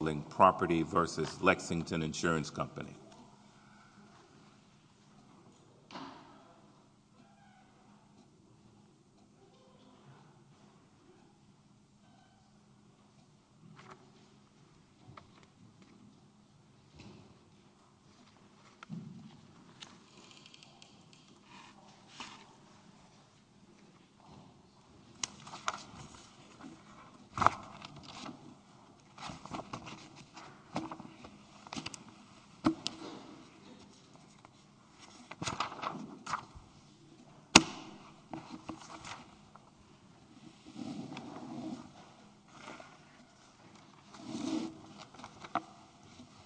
v. Lexington Insurance Company.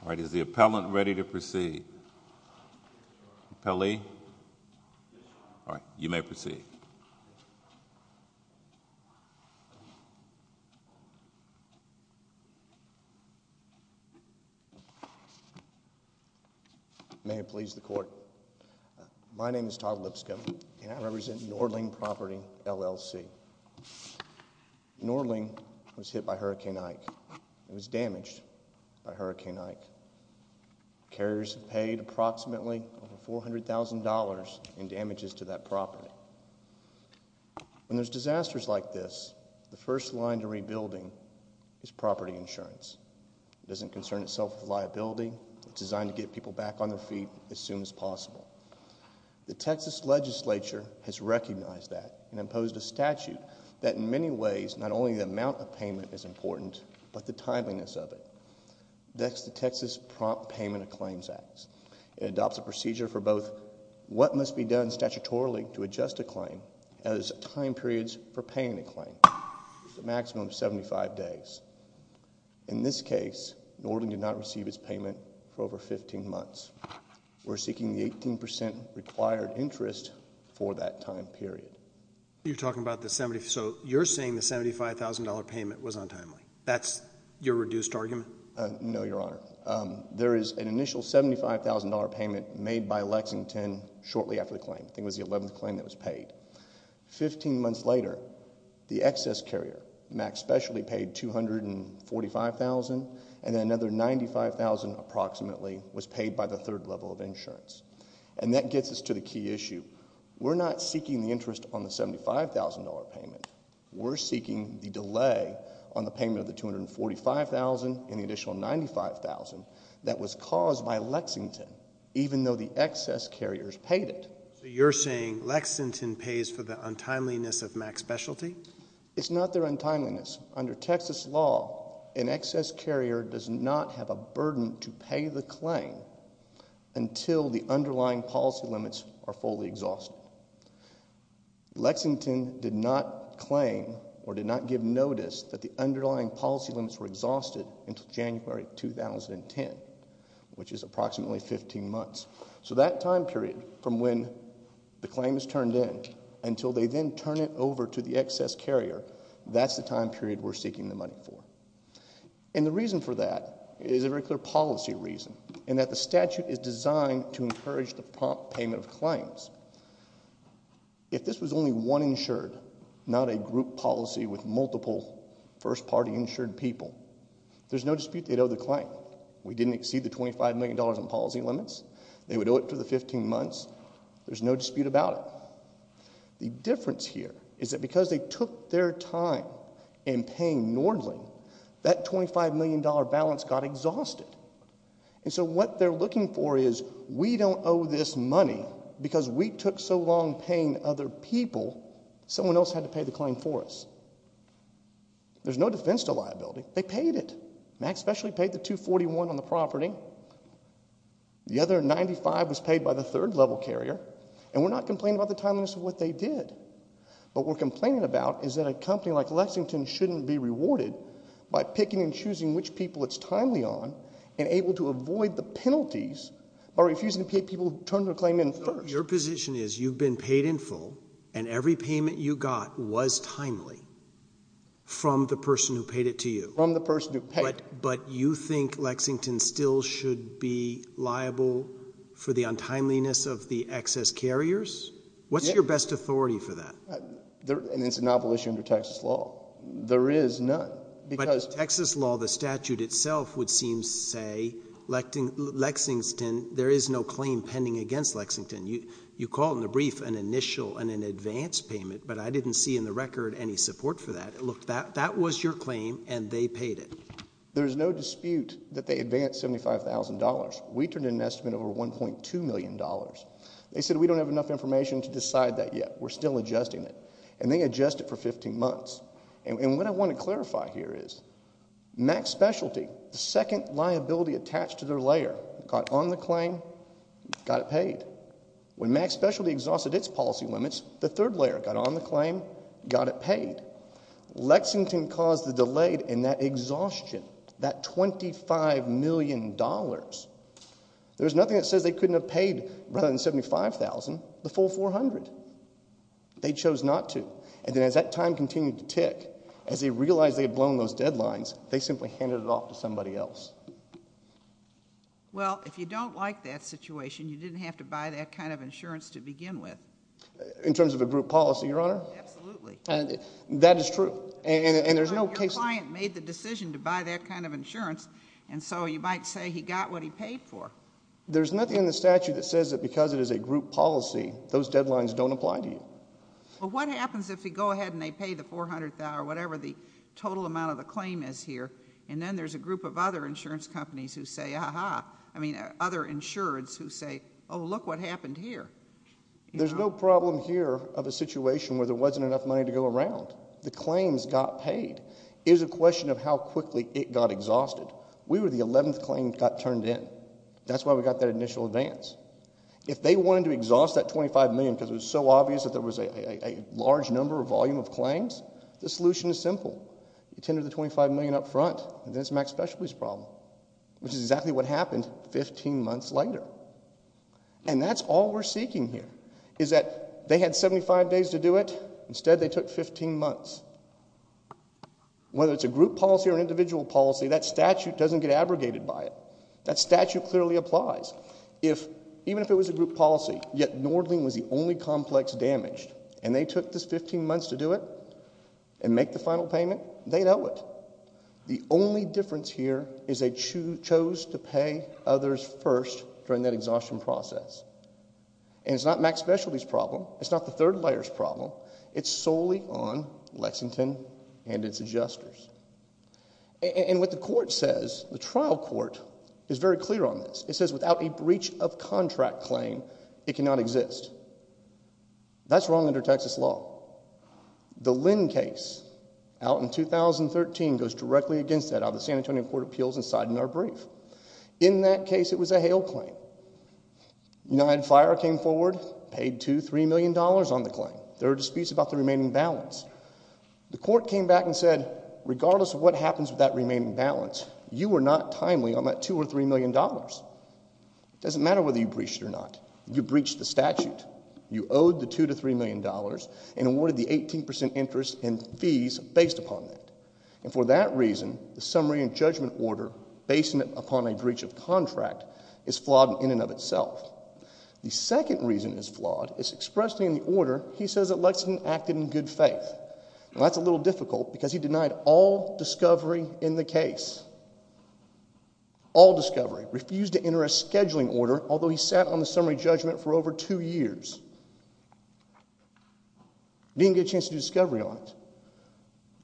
All right, is the appellant ready to proceed? May it please the Court, my name is Todd Lipscomb, and I represent Norling Property, LLC. Norling was hit by Hurricane Ike, was damaged by Hurricane Ike. Carriers paid approximately $400,000 in damages to that property. When there's disasters like this, the first line to rebuilding is property insurance. It doesn't concern itself with liability. It's designed to get people back on their feet as soon as possible. The Texas legislature has recognized that and imposed a statute that, in many ways, not only the amount of payment is important, but the timeliness of it. That's the Texas Prompt Payment of Claims Act. It adopts a procedure for both what must be done statutorily to adjust a claim as time periods for paying a claim, a maximum of 75 days. In this case, Norling did not receive its payment for over 15 months. We're seeking the 18% required interest for that time period. You're talking about the 70, so you're saying the $75,000 payment was untimely. That's your reduced argument? No, Your Honor. There is an initial $75,000 payment made by Lexington shortly after the claim. I think it was the 11th claim that was paid. Fifteen months later, the excess carrier, Max Specialty, paid $245,000, and then another $95,000 approximately was paid by the third level of insurance. And that gets us to the key issue. We're not seeking the interest on the $75,000 payment. We're seeking the delay on the payment of the $245,000 and the additional $95,000 that was caused by Lexington, even though the excess carriers paid it. So you're saying Lexington pays for the untimeliness of Max Specialty? It's not their untimeliness. Under Texas law, an excess carrier does not have a burden to pay the claim until the underlying policy limits are fully exhausted. Lexington did not claim or did not give notice that the underlying policy limits were exhausted until January 2010, which is approximately 15 months. So that time period from when the claim is turned in until they then turn it over to the excess carrier, that's the time period we're seeking the money for. And the reason for that is a very clear policy reason and that the statute is designed to encourage the prompt payment of claims. If this was only one insured, not a group policy with multiple first-party insured people, there's no dispute they'd owe the claim. We didn't exceed the $25 million in policy limits. They would owe it for the 15 months. There's no dispute about it. The difference here is that because they took their time in paying Nordling, that $25 million balance got exhausted. And so what they're looking for is we don't owe this money because we took so long paying other people, someone else had to pay the claim for us. There's no defense to liability. They paid it. Max specially paid the $241 on the property. The other $95 was paid by the third-level carrier, and we're not complaining about the timeliness of what they did. What we're complaining about is that a company like Lexington shouldn't be rewarded by picking and choosing which people it's timely on and able to avoid the penalties by refusing to pay people who turned their claim in first. Your position is you've been paid in full, and every payment you got was timely from the person who paid it to you. From the person who paid it. But you think Lexington still should be liable for the untimeliness of the excess carriers? What's your best authority for that? And it's a novel issue under Texas law. There is none. But in Texas law, the statute itself would seem to say, Lexington, there is no claim pending against Lexington. You call in the brief an initial and an advance payment, but I didn't see in the record any support for that. Look, that was your claim, and they paid it. There's no dispute that they advanced $75,000. We turned in an estimate over $1.2 million. They said we don't have enough information to decide that yet. We're still adjusting it. And they adjust it for 15 months. And what I want to clarify here is Max Specialty, the second liability attached to their layer, got on the claim, got it paid. When Max Specialty exhausted its policy limits, the third layer got on the claim, got it paid. Lexington caused the delay in that exhaustion, that $25 million. There's nothing that says they couldn't have paid, rather than $75,000, the full $400,000. They chose not to. And then as that time continued to tick, as they realized they had blown those deadlines, they simply handed it off to somebody else. Well, if you don't like that situation, you didn't have to buy that kind of insurance to begin with. In terms of a group policy, Your Honor? Absolutely. That is true. Your client made the decision to buy that kind of insurance, and so you might say he got what he paid for. There's nothing in the statute that says that because it is a group policy, those deadlines don't apply to you. Well, what happens if you go ahead and they pay the $400,000, whatever the total amount of the claim is here, and then there's a group of other insurance companies who say, ah-ha, I mean other insureds who say, oh, look what happened here. There's no problem here of a situation where there wasn't enough money to go around. The claims got paid. It is a question of how quickly it got exhausted. We were the 11th claim that got turned in. That's why we got that initial advance. If they wanted to exhaust that $25 million because it was so obvious that there was a large number or volume of claims, the solution is simple. You tender the $25 million up front, and then it's a max specialties problem, which is exactly what happened 15 months later. And that's all we're seeking here is that they had 75 days to do it. Instead, they took 15 months. Whether it's a group policy or an individual policy, that statute doesn't get abrogated by it. That statute clearly applies. Even if it was a group policy, yet Nordling was the only complex damaged, and they took those 15 months to do it and make the final payment, they know it. The only difference here is they chose to pay others first during that exhaustion process. And it's not max specialties problem. It's not the third layers problem. It's solely on Lexington and its adjusters. And what the court says, the trial court, is very clear on this. It says without a breach of contract claim, it cannot exist. That's wrong under Texas law. The Lynn case out in 2013 goes directly against that out of the San Antonio Court of Appeals and side in our brief. In that case, it was a hail claim. United Fire came forward, paid $2, $3 million on the claim. There were disputes about the remaining balance. The court came back and said, regardless of what happens with that remaining balance, you were not timely on that $2 or $3 million. It doesn't matter whether you breached it or not. You breached the statute. You owed the $2 to $3 million and awarded the 18% interest and fees based upon that. And for that reason, the summary and judgment order, based upon a breach of contract, is flawed in and of itself. The second reason it's flawed is expressed in the order he says that Lexington acted in good faith. And that's a little difficult because he denied all discovery in the case. All discovery. Refused to enter a scheduling order, although he sat on the summary judgment for over two years. Didn't get a chance to do discovery on it.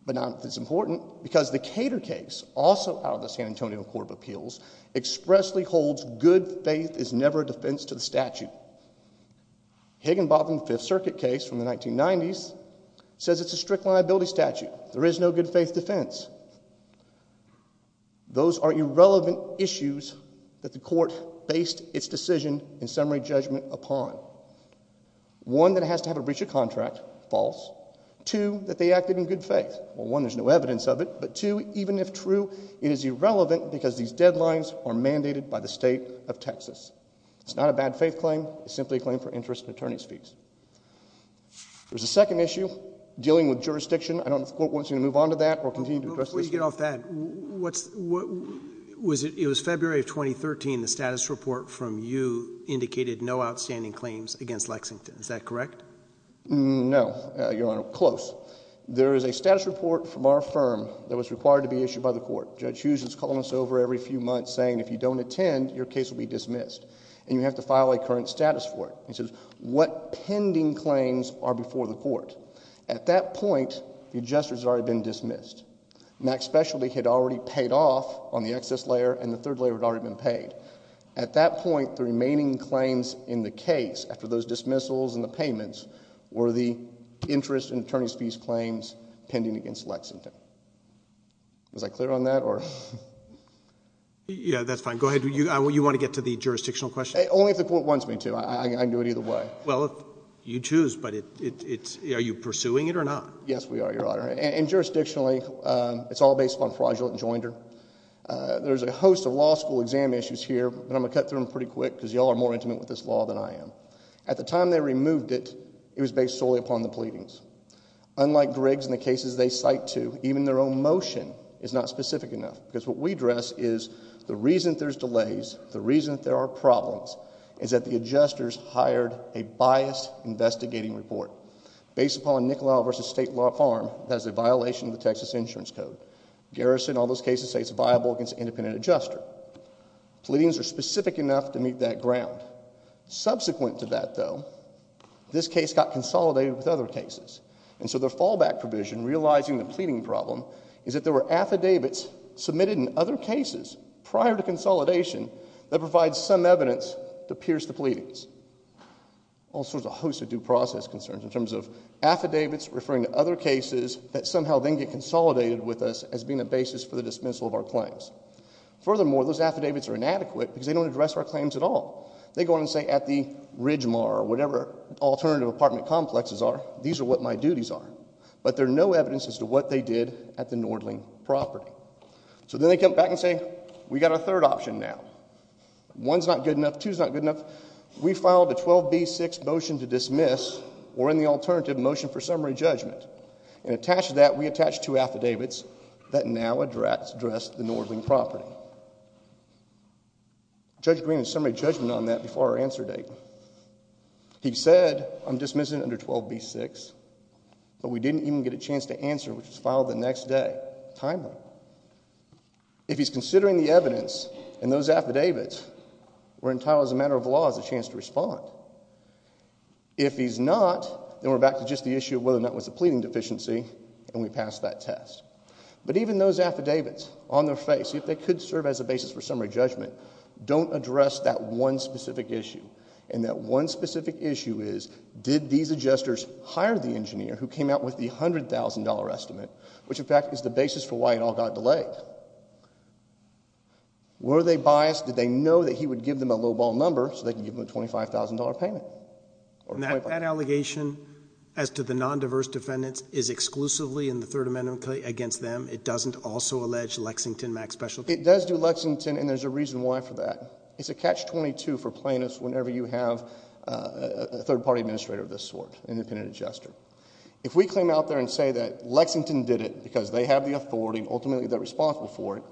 But now it's important because the Cater case, also out of the San Antonio Court of Appeals, expressly holds good faith is never a defense to the statute. Higginbotham Fifth Circuit case from the 1990s says it's a strict liability statute. There is no good faith defense. Those are irrelevant issues that the court based its decision in summary judgment upon. One, that it has to have a breach of contract. False. Two, that they acted in good faith. Well, one, there's no evidence of it. But two, even if true, it is irrelevant because these deadlines are mandated by the state of Texas. It's not a bad faith claim. It's simply a claim for interest and attorney's fees. There's a second issue, dealing with jurisdiction. I don't know if the court wants you to move on to that or continue to address this. Before you get off that, what's – it was February of 2013 the status report from you indicated no outstanding claims against Lexington. Is that correct? No, Your Honor. Close. There is a status report from our firm that was required to be issued by the court. Judge Hughes is calling us over every few months saying if you don't attend, your case will be dismissed. And you have to file a current status for it. He says, what pending claims are before the court? At that point, the adjusters had already been dismissed. Max Specialty had already paid off on the excess layer and the third layer had already been paid. At that point, the remaining claims in the case, after those dismissals and the payments, were the interest and attorney's fees claims pending against Lexington. Was I clear on that? Yeah, that's fine. Go ahead. You want to get to the jurisdictional question? Only if the court wants me to. I can do it either way. Well, you choose, but it's – are you pursuing it or not? Yes, we are, Your Honor. And jurisdictionally, it's all based upon fraudulent enjoinder. There's a host of law school exam issues here, but I'm going to cut through them pretty quick because you all are more intimate with this law than I am. At the time they removed it, it was based solely upon the pleadings. Unlike Griggs and the cases they cite to, even their own motion is not specific enough because what we address is the reason there's delays, the reason there are problems, is that the adjusters hired a biased investigating report based upon Nicolau v. State Law Farm that is a violation of the Texas Insurance Code. Garrison, all those cases say it's viable against an independent adjuster. Pleadings are specific enough to meet that ground. Subsequent to that, though, this case got consolidated with other cases. And so their fallback provision, realizing the pleading problem, is that there were affidavits submitted in other cases prior to consolidation that provide some evidence to pierce the pleadings. Also, there's a host of due process concerns in terms of affidavits referring to other cases that somehow then get consolidated with us as being a basis for the dismissal of our claims. Furthermore, those affidavits are inadequate because they don't address our claims at all. They go on and say at the Ridgemar or whatever alternative apartment complexes are, these are what my duties are, but there's no evidence as to what they did at the Nordling property. So then they come back and say we've got a third option now. One's not good enough, two's not good enough. We filed a 12B6 motion to dismiss or in the alternative motion for summary judgment. And attached to that, we attached two affidavits that now address the Nordling property. Judge Green had summary judgment on that before our answer date. He said I'm dismissing under 12B6, but we didn't even get a chance to answer, which was filed the next day, timely. If he's considering the evidence and those affidavits, we're entitled as a matter of law as a chance to respond. If he's not, then we're back to just the issue of whether or not it was a pleading deficiency, and we pass that test. But even those affidavits on their face, if they could serve as a basis for summary judgment, don't address that one specific issue. And that one specific issue is did these adjusters hire the engineer who came out with the $100,000 estimate, which in fact is the basis for why it all got delayed? Were they biased? Did they know that he would give them a lowball number so they could give them a $25,000 payment? And that allegation as to the non-diverse defendants is exclusively in the Third Amendment against them. It doesn't also allege Lexington Max Specialty. It does do Lexington, and there's a reason why for that. It's a catch-22 for plaintiffs whenever you have a third-party administrator of this sort, an independent adjuster. If we came out there and say that Lexington did it because they have the authority, and ultimately they're responsible for it,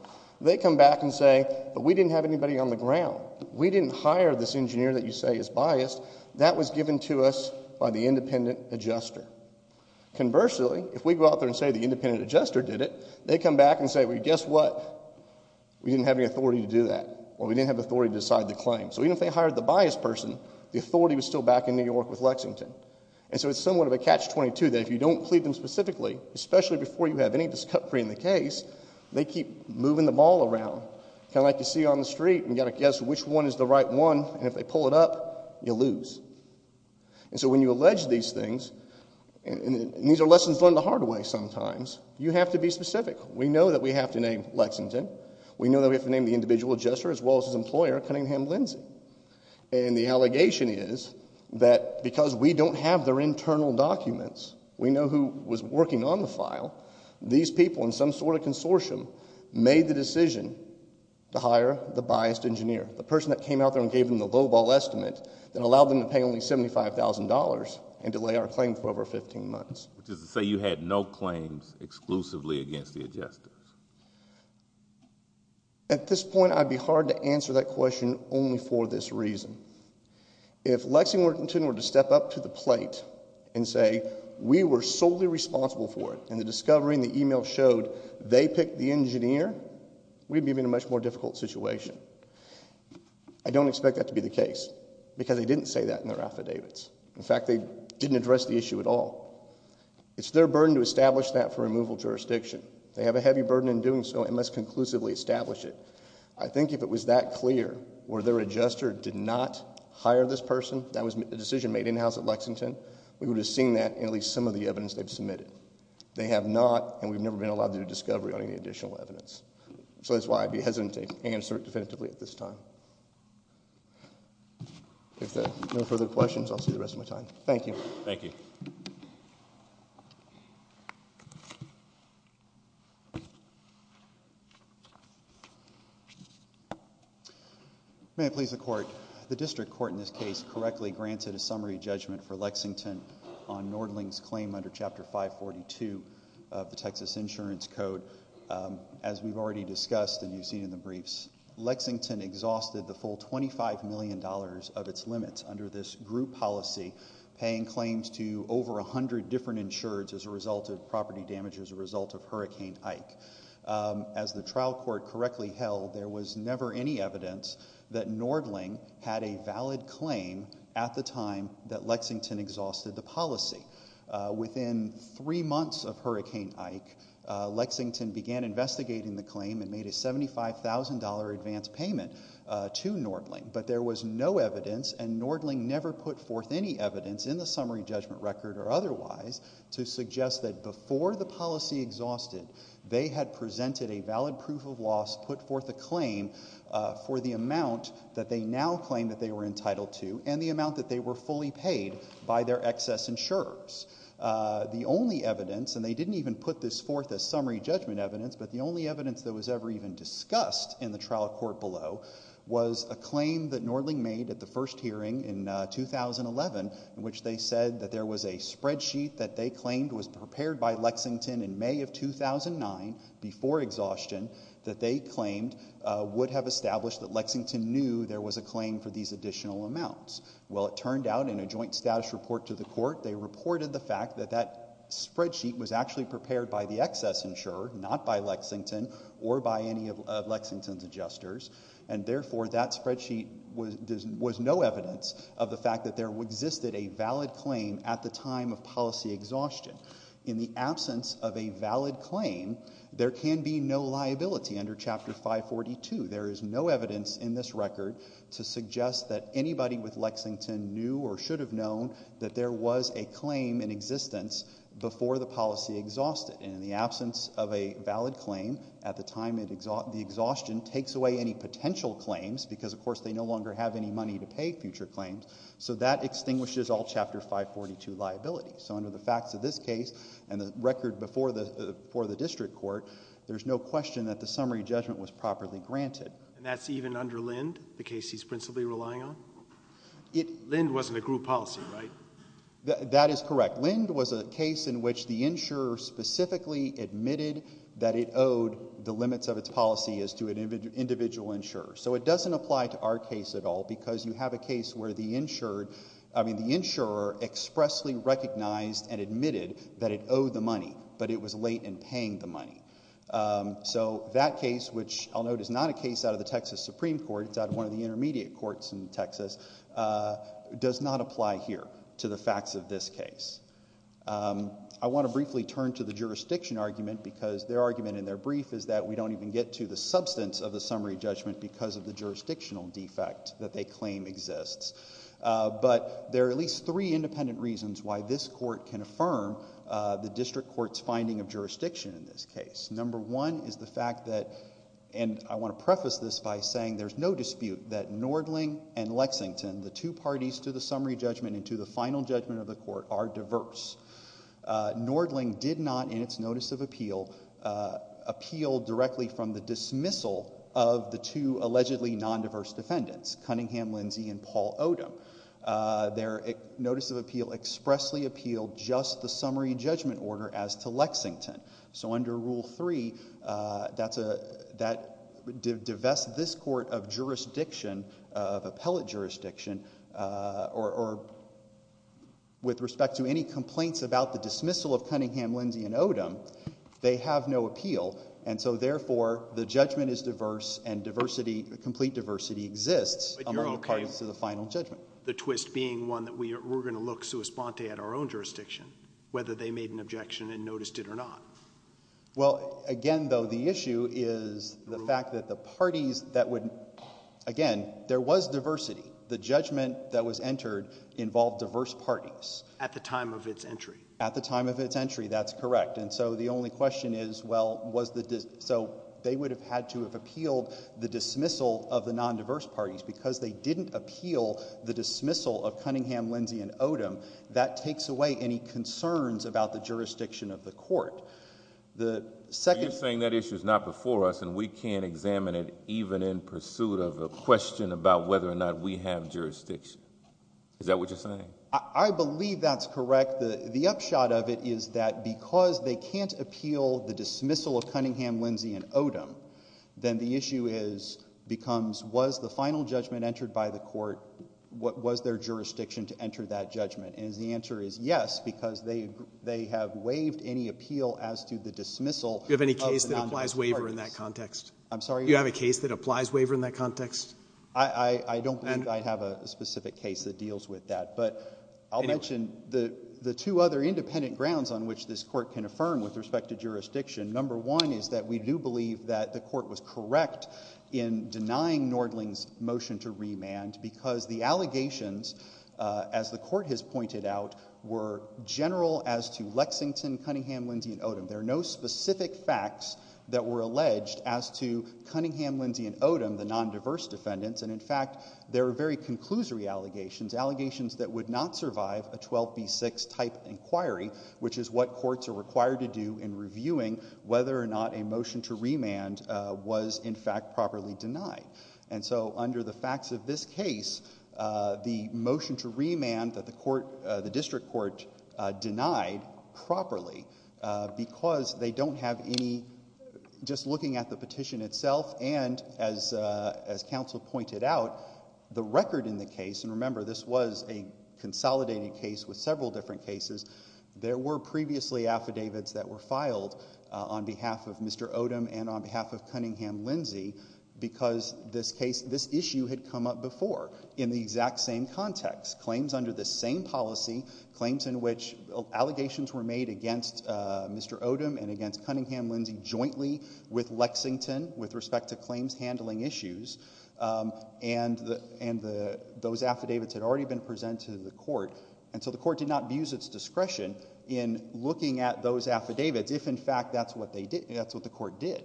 they come back and say, but we didn't have anybody on the ground. We didn't hire this engineer that you say is biased. That was given to us by the independent adjuster. Conversely, if we go out there and say the independent adjuster did it, they come back and say, well, guess what? We didn't have any authority to do that, or we didn't have authority to decide the claim. So even if they hired the biased person, the authority was still back in New York with Lexington. And so it's somewhat of a catch-22 that if you don't plead them specifically, especially before you have any discovery in the case, they keep moving them all around. Kind of like you see on the street and you've got to guess which one is the right one, and if they pull it up, you lose. And so when you allege these things, and these are lessons learned the hard way sometimes, you have to be specific. We know that we have to name Lexington. We know that we have to name the individual adjuster as well as his employer, Cunningham Lindsay. And the allegation is that because we don't have their internal documents, we know who was working on the file, these people in some sort of consortium made the decision to hire the biased engineer, the person that came out there and gave them the lowball estimate that allowed them to pay only $75,000 and delay our claim for over 15 months. Which is to say you had no claims exclusively against the adjusters. At this point, I'd be hard to answer that question only for this reason. If Lexington were to step up to the plate and say we were solely responsible for it, and the discovery in the email showed they picked the engineer, we'd be in a much more difficult situation. I don't expect that to be the case, because they didn't say that in their affidavits. In fact, they didn't address the issue at all. It's their burden to establish that for removal jurisdiction. They have a heavy burden in doing so and must conclusively establish it. I think if it was that clear, were their adjuster did not hire this person, that was a decision made in-house at Lexington, we would have seen that in at least some of the evidence they've submitted. They have not, and we've never been allowed to do a discovery on any additional evidence. So that's why I'd be hesitant to answer it definitively at this time. If there are no further questions, I'll see you the rest of my time. Thank you. Thank you. May it please the Court, the district court in this case correctly granted a summary judgment for Lexington on Nordling's claim under Chapter 542 of the Texas Insurance Code. As we've already discussed and you've seen in the briefs, Lexington exhausted the full $25 million of its limits under this group policy, paying claims to over 100 different insurers as a result of property damage as a result of Hurricane Ike. As the trial court correctly held, there was never any evidence that Nordling had a valid claim at the time that Lexington exhausted the policy. Within three months of Hurricane Ike, Lexington began investigating the claim and made a $75,000 advance payment to Nordling, but there was no evidence and Nordling never put forth any evidence in the summary judgment record or otherwise to suggest that before the policy exhausted, they had presented a valid proof of loss, put forth a claim for the amount that they now claim that they were entitled to and the amount that they were fully paid by their excess insurers. The only evidence, and they didn't even put this forth as summary judgment evidence, but the only evidence that was ever even discussed in the trial court below was a claim that Nordling made at the first hearing in 2011 in which they said that there was a spreadsheet that they claimed was prepared by Lexington in May of 2009 before exhaustion that they claimed would have established that Lexington knew there was a claim for these additional amounts. Well, it turned out in a joint status report to the court, they reported the fact that that spreadsheet was actually prepared by the excess insurer, not by Lexington or by any of Lexington's adjusters, and therefore that spreadsheet was no evidence of the fact that there existed a valid claim at the time of policy exhaustion. In the absence of a valid claim, there can be no liability under Chapter 542. There is no evidence in this record to suggest that anybody with Lexington knew or should have known that there was a claim in existence before the policy exhausted, and in the absence of a valid claim at the time the exhaustion takes away any potential claims because, of course, they no longer have any money to pay future claims, so that extinguishes all Chapter 542 liabilities. So under the facts of this case and the record before the district court, there's no question that the summary judgment was properly granted. And that's even under Lind, the case he's principally relying on? Lind wasn't a group policy, right? That is correct. Lind was a case in which the insurer specifically admitted that it owed the limits of its policy as to an individual insurer. So it doesn't apply to our case at all because you have a case where the insurer expressly recognized and admitted that it owed the money, but it was late in paying the money. So that case, which I'll note is not a case out of the Texas Supreme Court. It's out of one of the intermediate courts in Texas, does not apply here to the facts of this case. I want to briefly turn to the jurisdiction argument because their argument in their brief is that we don't even get to the substance of the summary judgment because of the jurisdictional defect that they claim exists. But there are at least three independent reasons why this court can affirm the district court's finding of jurisdiction in this case. Number one is the fact that, and I want to preface this by saying there's no dispute that Nordling and Lexington, the two parties to the summary judgment and to the final judgment of the court, are diverse. Nordling did not, in its notice of appeal, appeal directly from the dismissal of the two allegedly non-diverse defendants, Cunningham, Lindsey, and Paul Odom. Their notice of appeal expressly appealed just the summary judgment order as to Lexington. So under Rule 3, that divests this court of jurisdiction, of appellate jurisdiction, or with respect to any complaints about the dismissal of Cunningham, Lindsey, and Odom, they have no appeal. And so therefore, the judgment is diverse and diversity, complete diversity, exists among the parties to the final judgment. The twist being one that we're going to look sua sponte at our own jurisdiction, whether they made an objection and noticed it or not. Well, again, though, the issue is the fact that the parties that would, again, there was diversity. The judgment that was entered involved diverse parties. At the time of its entry. At the time of its entry, that's correct. And so the only question is, well, was the, so they would have had to have appealed the dismissal of the non-diverse parties because they didn't appeal the dismissal of Cunningham, Lindsey, and Odom. That takes away any concerns about the jurisdiction of the court. The second. So you're saying that issue is not before us and we can't examine it even in pursuit of a question about whether or not we have jurisdiction. Is that what you're saying? I believe that's correct. The upshot of it is that because they can't appeal the dismissal of Cunningham, Lindsey, and Odom, then the issue becomes was the final judgment entered by the court, was there jurisdiction to enter that judgment? And the answer is yes because they have waived any appeal as to the dismissal of the non-diverse parties. Do you have any case that applies waiver in that context? I'm sorry? Do you have a case that applies waiver in that context? I don't believe I have a specific case that deals with that. But I'll mention the two other independent grounds on which this court can affirm with respect to jurisdiction. Number one is that we do believe that the court was correct in denying Nordling's motion to remand because the allegations, as the court has pointed out, were general as to Lexington, Cunningham, Lindsey, and Odom. There are no specific facts that were alleged as to Cunningham, Lindsey, and Odom, the non-diverse defendants. And in fact, there are very conclusory allegations, allegations that would not survive a 12B6 type inquiry, which is what courts are required to do in reviewing whether or not a motion to remand was in fact properly denied. And so under the facts of this case, the motion to remand that the district court denied properly because they don't have any, just looking at the petition itself and as counsel pointed out, the record in the case, and remember this was a consolidated case with several different cases, there were previously affidavits that were filed on behalf of Mr. Odom and on behalf of Cunningham-Lindsey because this issue had come up before in the exact same context. Claims under the same policy, claims in which allegations were made against Mr. Odom and against Cunningham-Lindsey jointly with Lexington with respect to claims handling issues, and those affidavits had already been presented to the court. And so the court did not abuse its discretion in looking at those affidavits if in fact that's what the court did.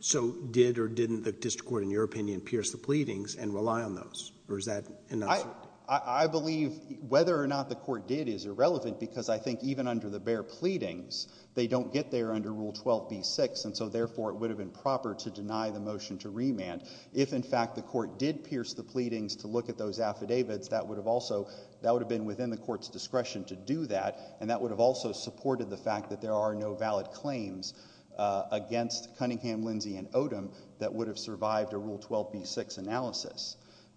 So did or didn't the district court, in your opinion, pierce the pleadings and rely on those? I believe whether or not the court did is irrelevant because I think even under the bare pleadings, they don't get there under Rule 12b-6 and so therefore it would have been proper to deny the motion to remand. If in fact the court did pierce the pleadings to look at those affidavits, that would have been within the court's discretion to do that and that would have also supported the fact that there are no valid claims against Cunningham-Lindsey and Odom that would have survived a Rule 12b-6 analysis.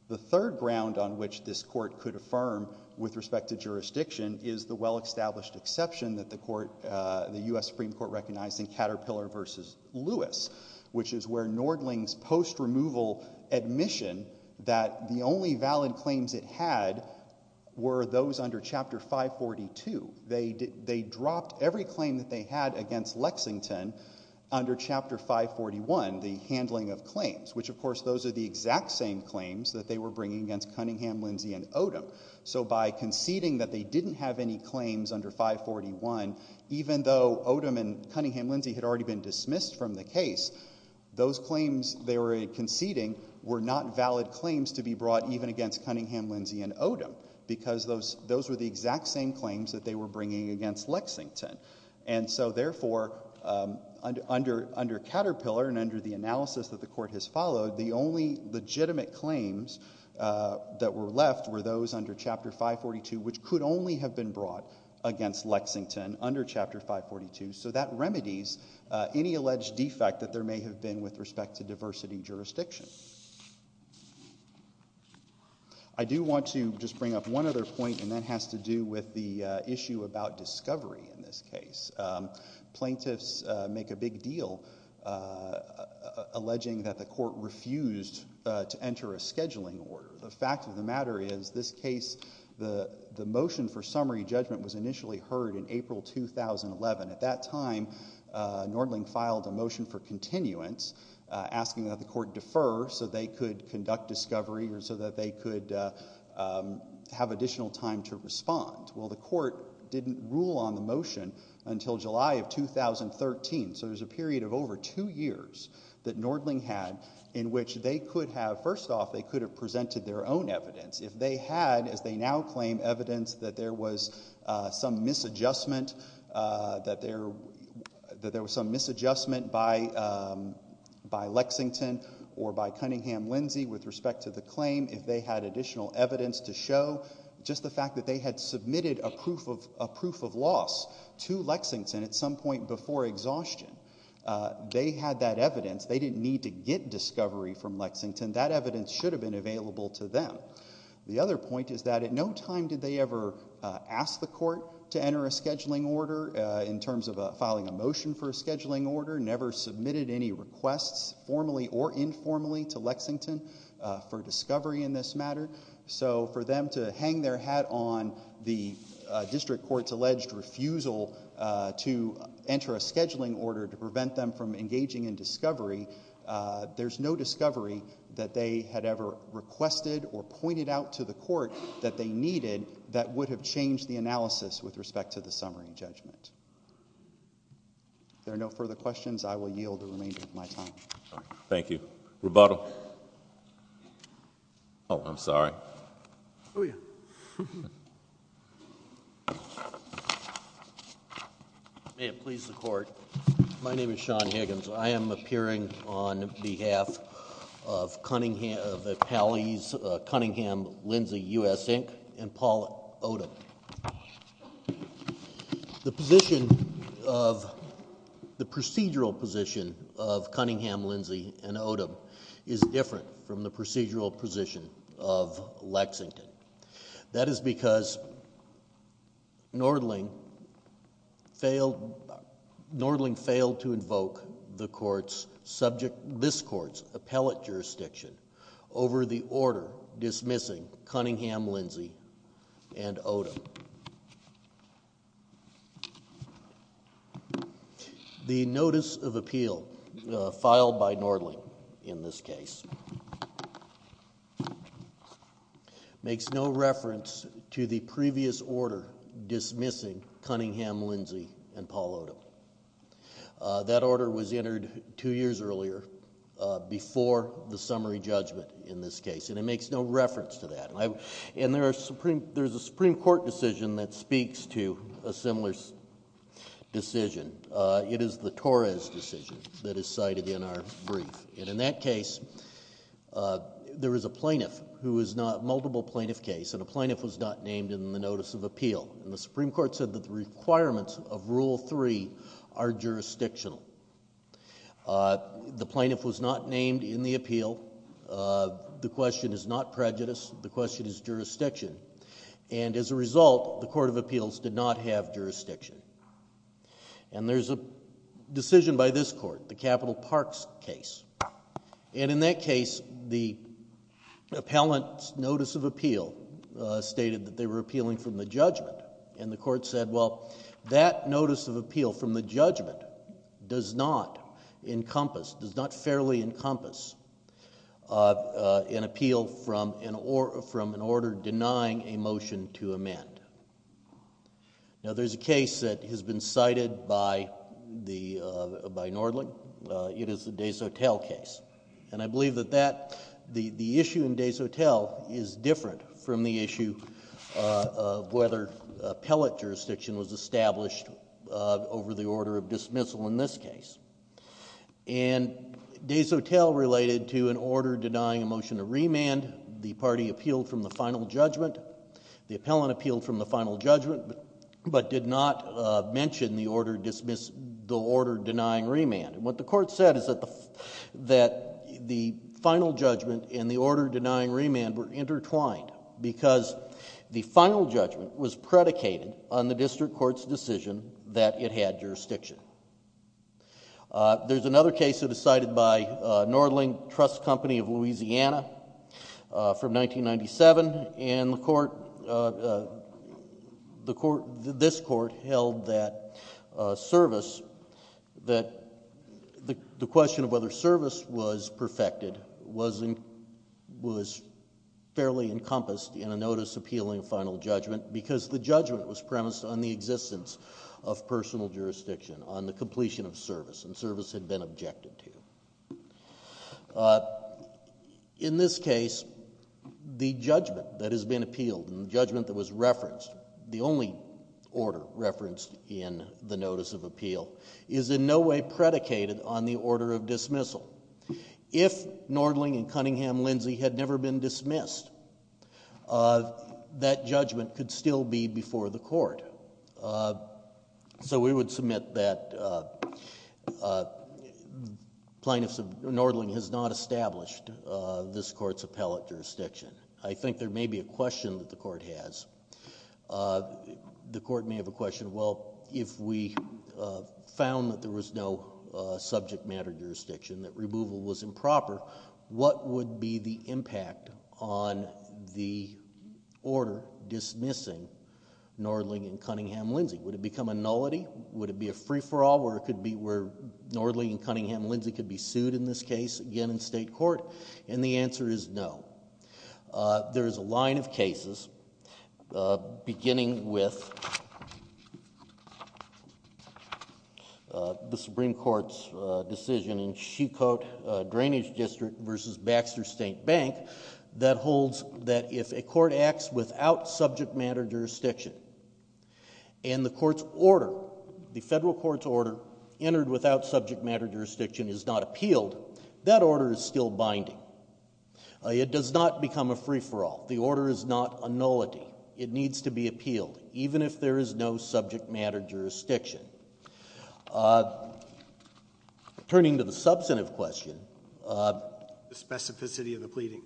The third ground on which this court could affirm with respect to jurisdiction is the well-established exception that the U.S. Supreme Court recognized in Caterpillar v. Lewis, which is where Nordling's post-removal admission that the only valid claims it had were those under Chapter 542. They dropped every claim that they had against Lexington under Chapter 541, the handling of claims, which of course those are the exact same claims that they were bringing against Cunningham-Lindsey and Odom. So by conceding that they didn't have any claims under 541, even though Odom and Cunningham-Lindsey had already been dismissed from the case, those claims they were conceding were not valid claims to be brought even against Cunningham-Lindsey and Odom because those were the exact same claims that they were bringing against Lexington. And so therefore under Caterpillar and under the analysis that the court has followed, the only legitimate claims that were left were those under Chapter 542, which could only have been brought against Lexington under Chapter 542. So that remedies any alleged defect that there may have been with respect to diversity jurisdiction. I do want to just bring up one other point, and that has to do with the issue about discovery in this case. Plaintiffs make a big deal alleging that the court refused to enter a scheduling order. The fact of the matter is this case, the motion for summary judgment was initially heard in April 2011. At that time Nordling filed a motion for continuance asking that the court defer so they could conduct discovery or so that they could have additional time to respond. Well, the court didn't rule on the motion until July of 2013. So there's a period of over two years that Nordling had in which they could have, first off, they could have presented their own evidence. If they had, as they now claim, evidence that there was some misadjustment, that there was some misadjustment by Lexington or by Cunningham-Lindsey with respect to the claim, if they had additional evidence to show just the fact that they had submitted a proof of loss to Lexington at some point before exhaustion, they had that evidence. They didn't need to get discovery from Lexington. That evidence should have been available to them. The other point is that at no time did they ever ask the court to enter a scheduling order in terms of filing a motion for a scheduling order, never submitted any requests formally or informally to Lexington for discovery in this matter. So for them to hang their hat on the district court's alleged refusal to enter a scheduling order to prevent them from engaging in discovery, there's no discovery that they had ever requested or pointed out to the court that they needed that would have changed the analysis with respect to the summary judgment. If there are no further questions, I will yield the remainder of my time. Thank you. Rebuttal. Oh, I'm sorry. Oh, yeah. May it please the Court. My name is Sean Higgins. I am appearing on behalf of Cunningham-Lindsey U.S. Inc. and Paul Odom. The position of the procedural position of Cunningham-Lindsey and Odom is different from the procedural position of Lexington. That is because Nordling failed to invoke this court's appellate jurisdiction over the order dismissing Cunningham-Lindsey and Odom. The notice of appeal filed by Nordling in this case makes no reference to the previous order dismissing Cunningham-Lindsey and Paul Odom. That order was entered two years earlier before the summary judgment in this case, and it makes no reference to that. There is a Supreme Court decision that speaks to a similar decision. It is the Torres decision that is cited in our brief. In that case, there is a plaintiff who is not multiple plaintiff case, and a plaintiff was not named in the notice of appeal. The Supreme Court said that the requirements of Rule 3 are jurisdictional. The plaintiff was not named in the appeal. The question is not prejudice. The question is jurisdiction. As a result, the court of appeals did not have jurisdiction. There is a decision by this court, the Capital Parks case. In that case, the appellant's notice of appeal stated that they were appealing from the judgment, and the court said, well, that notice of appeal from the judgment does not encompass, does not fairly encompass an appeal from an order denying a motion to amend. Now, there's a case that has been cited by Nordling. It is the Desautels case, and I believe that the issue in Desautels is different from the issue of whether appellate jurisdiction was established over the order of dismissal in this case. Desautels related to an order denying a motion to remand. The party appealed from the final judgment. The appellant appealed from the final judgment, but did not mention the order denying remand. What the court said is that the final judgment and the order denying remand were intertwined because the final judgment was predicated on the district court's decision that it had jurisdiction. There's another case that was cited by Nordling Trust Company of Louisiana from 1997, and the court, this court held that service, that the question of whether service was perfected was fairly encompassed in a notice appealing final judgment because the judgment was premised on the existence of personal jurisdiction, on the completion of service, and service had been objected to. In this case, the judgment that has been appealed and the judgment that was referenced, the only order referenced in the notice of appeal, is in no way predicated on the order of dismissal. If Nordling and Cunningham-Lindsay had never been dismissed, that judgment could still be before the court. So we would submit that plaintiffs of Nordling has not established this court's appellate jurisdiction. I think there may be a question that the court has. The court may have a question, well, if we found that there was no subject matter jurisdiction, that removal was improper, what would be the impact on the order dismissing Nordling and Cunningham-Lindsay? Would it become a nullity? Would it be a free-for-all where Nordling and Cunningham-Lindsay could be sued in this case again in state court? And the answer is no. There is a line of cases beginning with the Supreme Court's decision in Shecoat Drainage District v. Baxter State Bank that holds that if a court acts without subject matter jurisdiction and the court's order, the federal court's order entered without subject matter jurisdiction is not appealed, that order is still binding. It does not become a free-for-all. The order is not a nullity. It needs to be appealed even if there is no subject matter jurisdiction. Turning to the substantive question. The specificity of the pleading.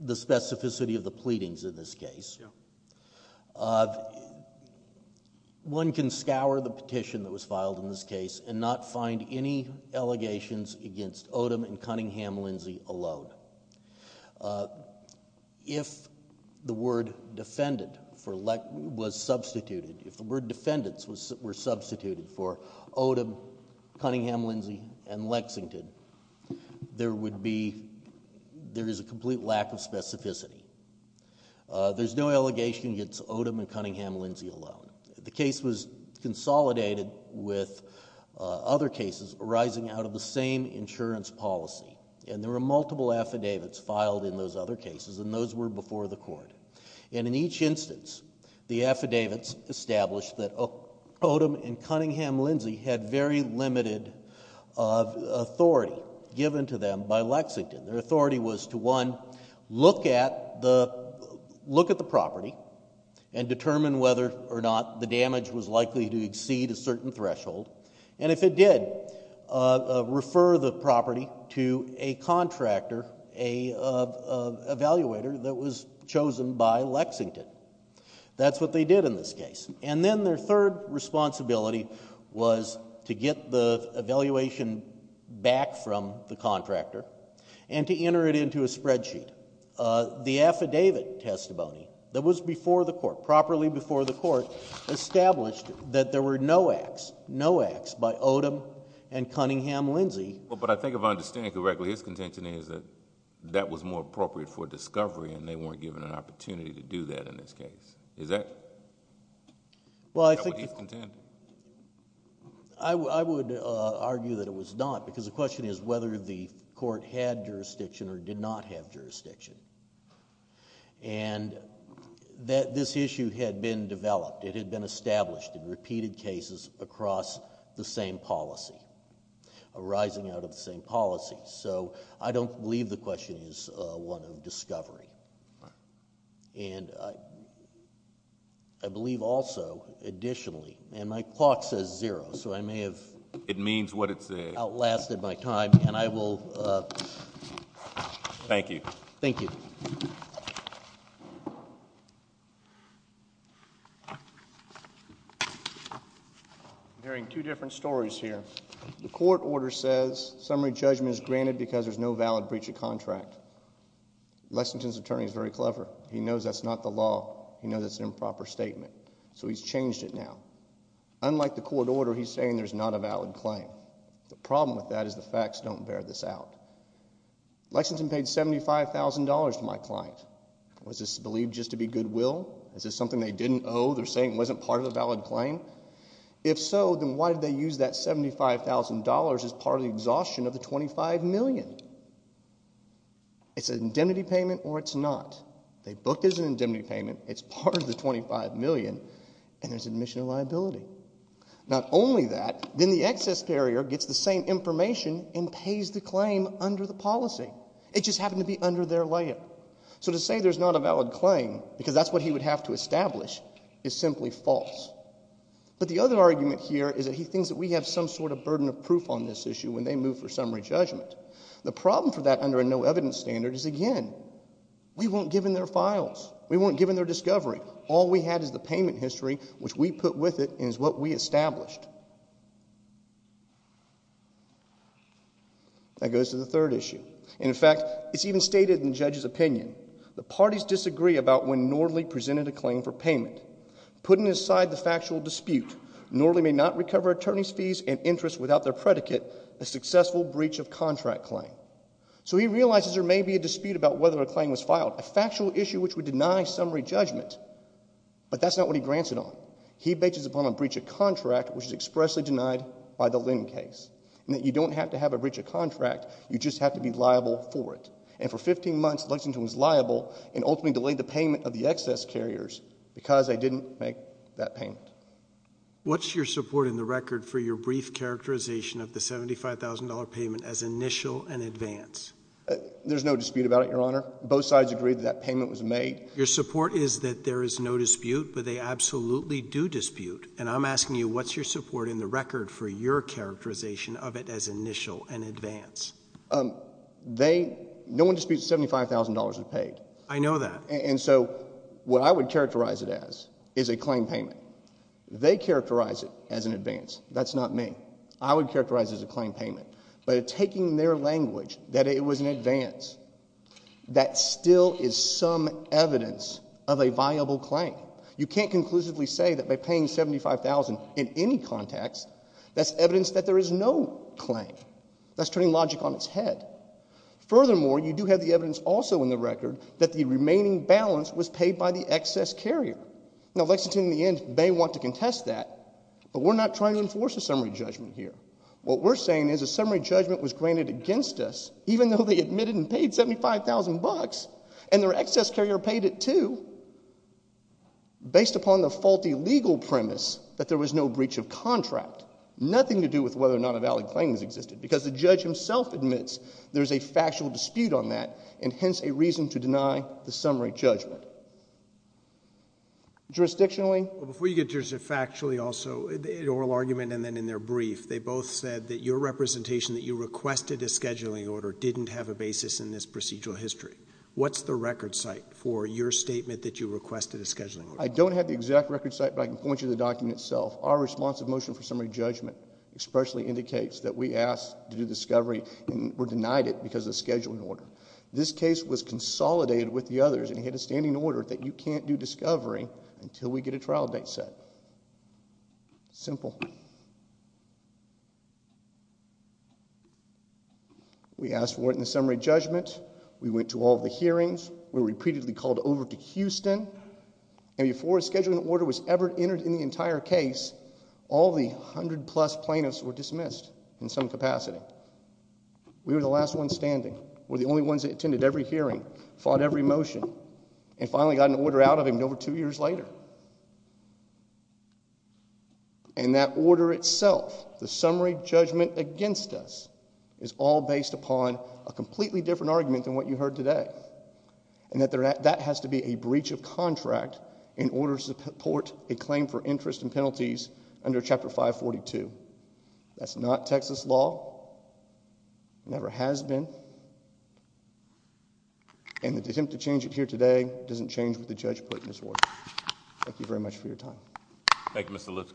The specificity of the pleadings in this case. Yeah. One can scour the petition that was filed in this case and not find any allegations against Odom and Cunningham-Lindsay alone. If the word defendant was substituted, if the word defendants were substituted for Odom, Cunningham-Lindsay, and Lexington, there would be, there is a complete lack of specificity. There's no allegation against Odom and Cunningham-Lindsay alone. The case was consolidated with other cases arising out of the same insurance policy. There were multiple affidavits filed in those other cases and those were before the court. In each instance, the affidavits established that Odom and Cunningham-Lindsay had very limited authority given to them by Lexington. Their authority was to, one, look at the property and determine whether or not the damage was likely to exceed a certain threshold. And if it did, refer the property to a contractor, an evaluator that was chosen by Lexington. That's what they did in this case. And then their third responsibility was to get the evaluation back from the contractor and to enter it into a spreadsheet. The affidavit testimony that was before the court, properly before the court, established that there were no acts, no acts by Odom and Cunningham-Lindsay. But I think if I understand it correctly, his contention is that that was more appropriate for discovery and they weren't given an opportunity to do that in this case. Is that what he's contending? I would argue that it was not because the question is whether the court had jurisdiction or did not have jurisdiction. This issue had been developed. It had been established in repeated cases across the same policy, arising out of the same policy. So I don't believe the question is one of discovery. And I believe also, additionally, and my clock says zero, so I may have outlasted my time, and I will. Thank you. Thank you. I'm hearing two different stories here. The court order says summary judgment is granted because there's no valid breach of contract. Lexington's attorney is very clever. He knows that's not the law. He knows that's an improper statement. So he's changed it now. Unlike the court order, he's saying there's not a valid claim. The problem with that is the facts don't bear this out. Lexington paid $75,000 to my client. Was this believed just to be goodwill? Is this something they didn't owe? They're saying it wasn't part of the valid claim? If so, then why did they use that $75,000 as part of the exhaustion of the $25 million? It's an indemnity payment or it's not. They booked it as an indemnity payment. It's part of the $25 million, and there's admission of liability. Not only that, then the excess carrier gets the same information and pays the claim under the policy. It just happened to be under their layer. So to say there's not a valid claim because that's what he would have to establish is simply false. But the other argument here is that he thinks that we have some sort of burden of proof on this issue when they move for summary judgment. The problem for that under a no-evidence standard is, again, we weren't given their files. We weren't given their discovery. All we had is the payment history, which we put with it and is what we established. That goes to the third issue. And, in fact, it's even stated in the judge's opinion. The parties disagree about when Norley presented a claim for payment. Putting aside the factual dispute, Norley may not recover attorney's fees and interest without their predicate, a successful breach of contract claim. So he realizes there may be a dispute about whether a claim was filed. A factual issue which would deny summary judgment. But that's not what he grants it on. He bases it upon a breach of contract, which is expressly denied by the Lynn case. You don't have to have a breach of contract. You just have to be liable for it. And for 15 months, Lexington was liable and ultimately delayed the payment of the excess carriers because they didn't make that payment. What's your support in the record for your brief characterization of the $75,000 payment as initial and advance? There's no dispute about it, Your Honor. Both sides agree that that payment was made. Your support is that there is no dispute, but they absolutely do dispute. And I'm asking you, what's your support in the record for your characterization of it as initial and advance? They – no one disputes $75,000 is paid. I know that. And so what I would characterize it as is a claim payment. They characterize it as an advance. That's not me. I would characterize it as a claim payment. But taking their language that it was an advance, that still is some evidence of a viable claim. You can't conclusively say that by paying $75,000 in any context, that's evidence that there is no claim. That's turning logic on its head. Furthermore, you do have the evidence also in the record that the remaining balance was paid by the excess carrier. Now, Lexington in the end may want to contest that, but we're not trying to enforce a summary judgment here. What we're saying is a summary judgment was granted against us, even though they admitted and paid $75,000, and their excess carrier paid it too, based upon the faulty legal premise that there was no breach of contract. Nothing to do with whether or not a valid claim has existed because the judge himself admits there's a factual dispute on that and hence a reason to deny the summary judgment. Jurisdictionally? Before you get to just factually also, in oral argument and then in their brief, they both said that your representation that you requested a scheduling order didn't have a basis in this procedural history. What's the record site for your statement that you requested a scheduling order? I don't have the exact record site, but I can point you to the document itself. Our responsive motion for summary judgment expressly indicates that we asked to do discovery and were denied it because of the scheduling order. This case was consolidated with the others, and it had a standing order that you can't do discovery until we get a trial date set. Simple. We asked for it in the summary judgment. We went to all of the hearings. We were repeatedly called over to Houston, and before a scheduling order was ever entered in the entire case, all the 100-plus plaintiffs were dismissed in some capacity. We were the last ones standing. We were the only ones that attended every hearing, fought every motion, and finally got an order out of him over two years later. And that order itself, the summary judgment against us, is all based upon a completely different argument than what you heard today, and that that has to be a breach of contract in order to support a claim for interest and penalties under Chapter 542. That's not Texas law, never has been, and the attempt to change it here today doesn't change what the judge put in his order. Thank you very much for your time. Thank you, Mr. Lutz.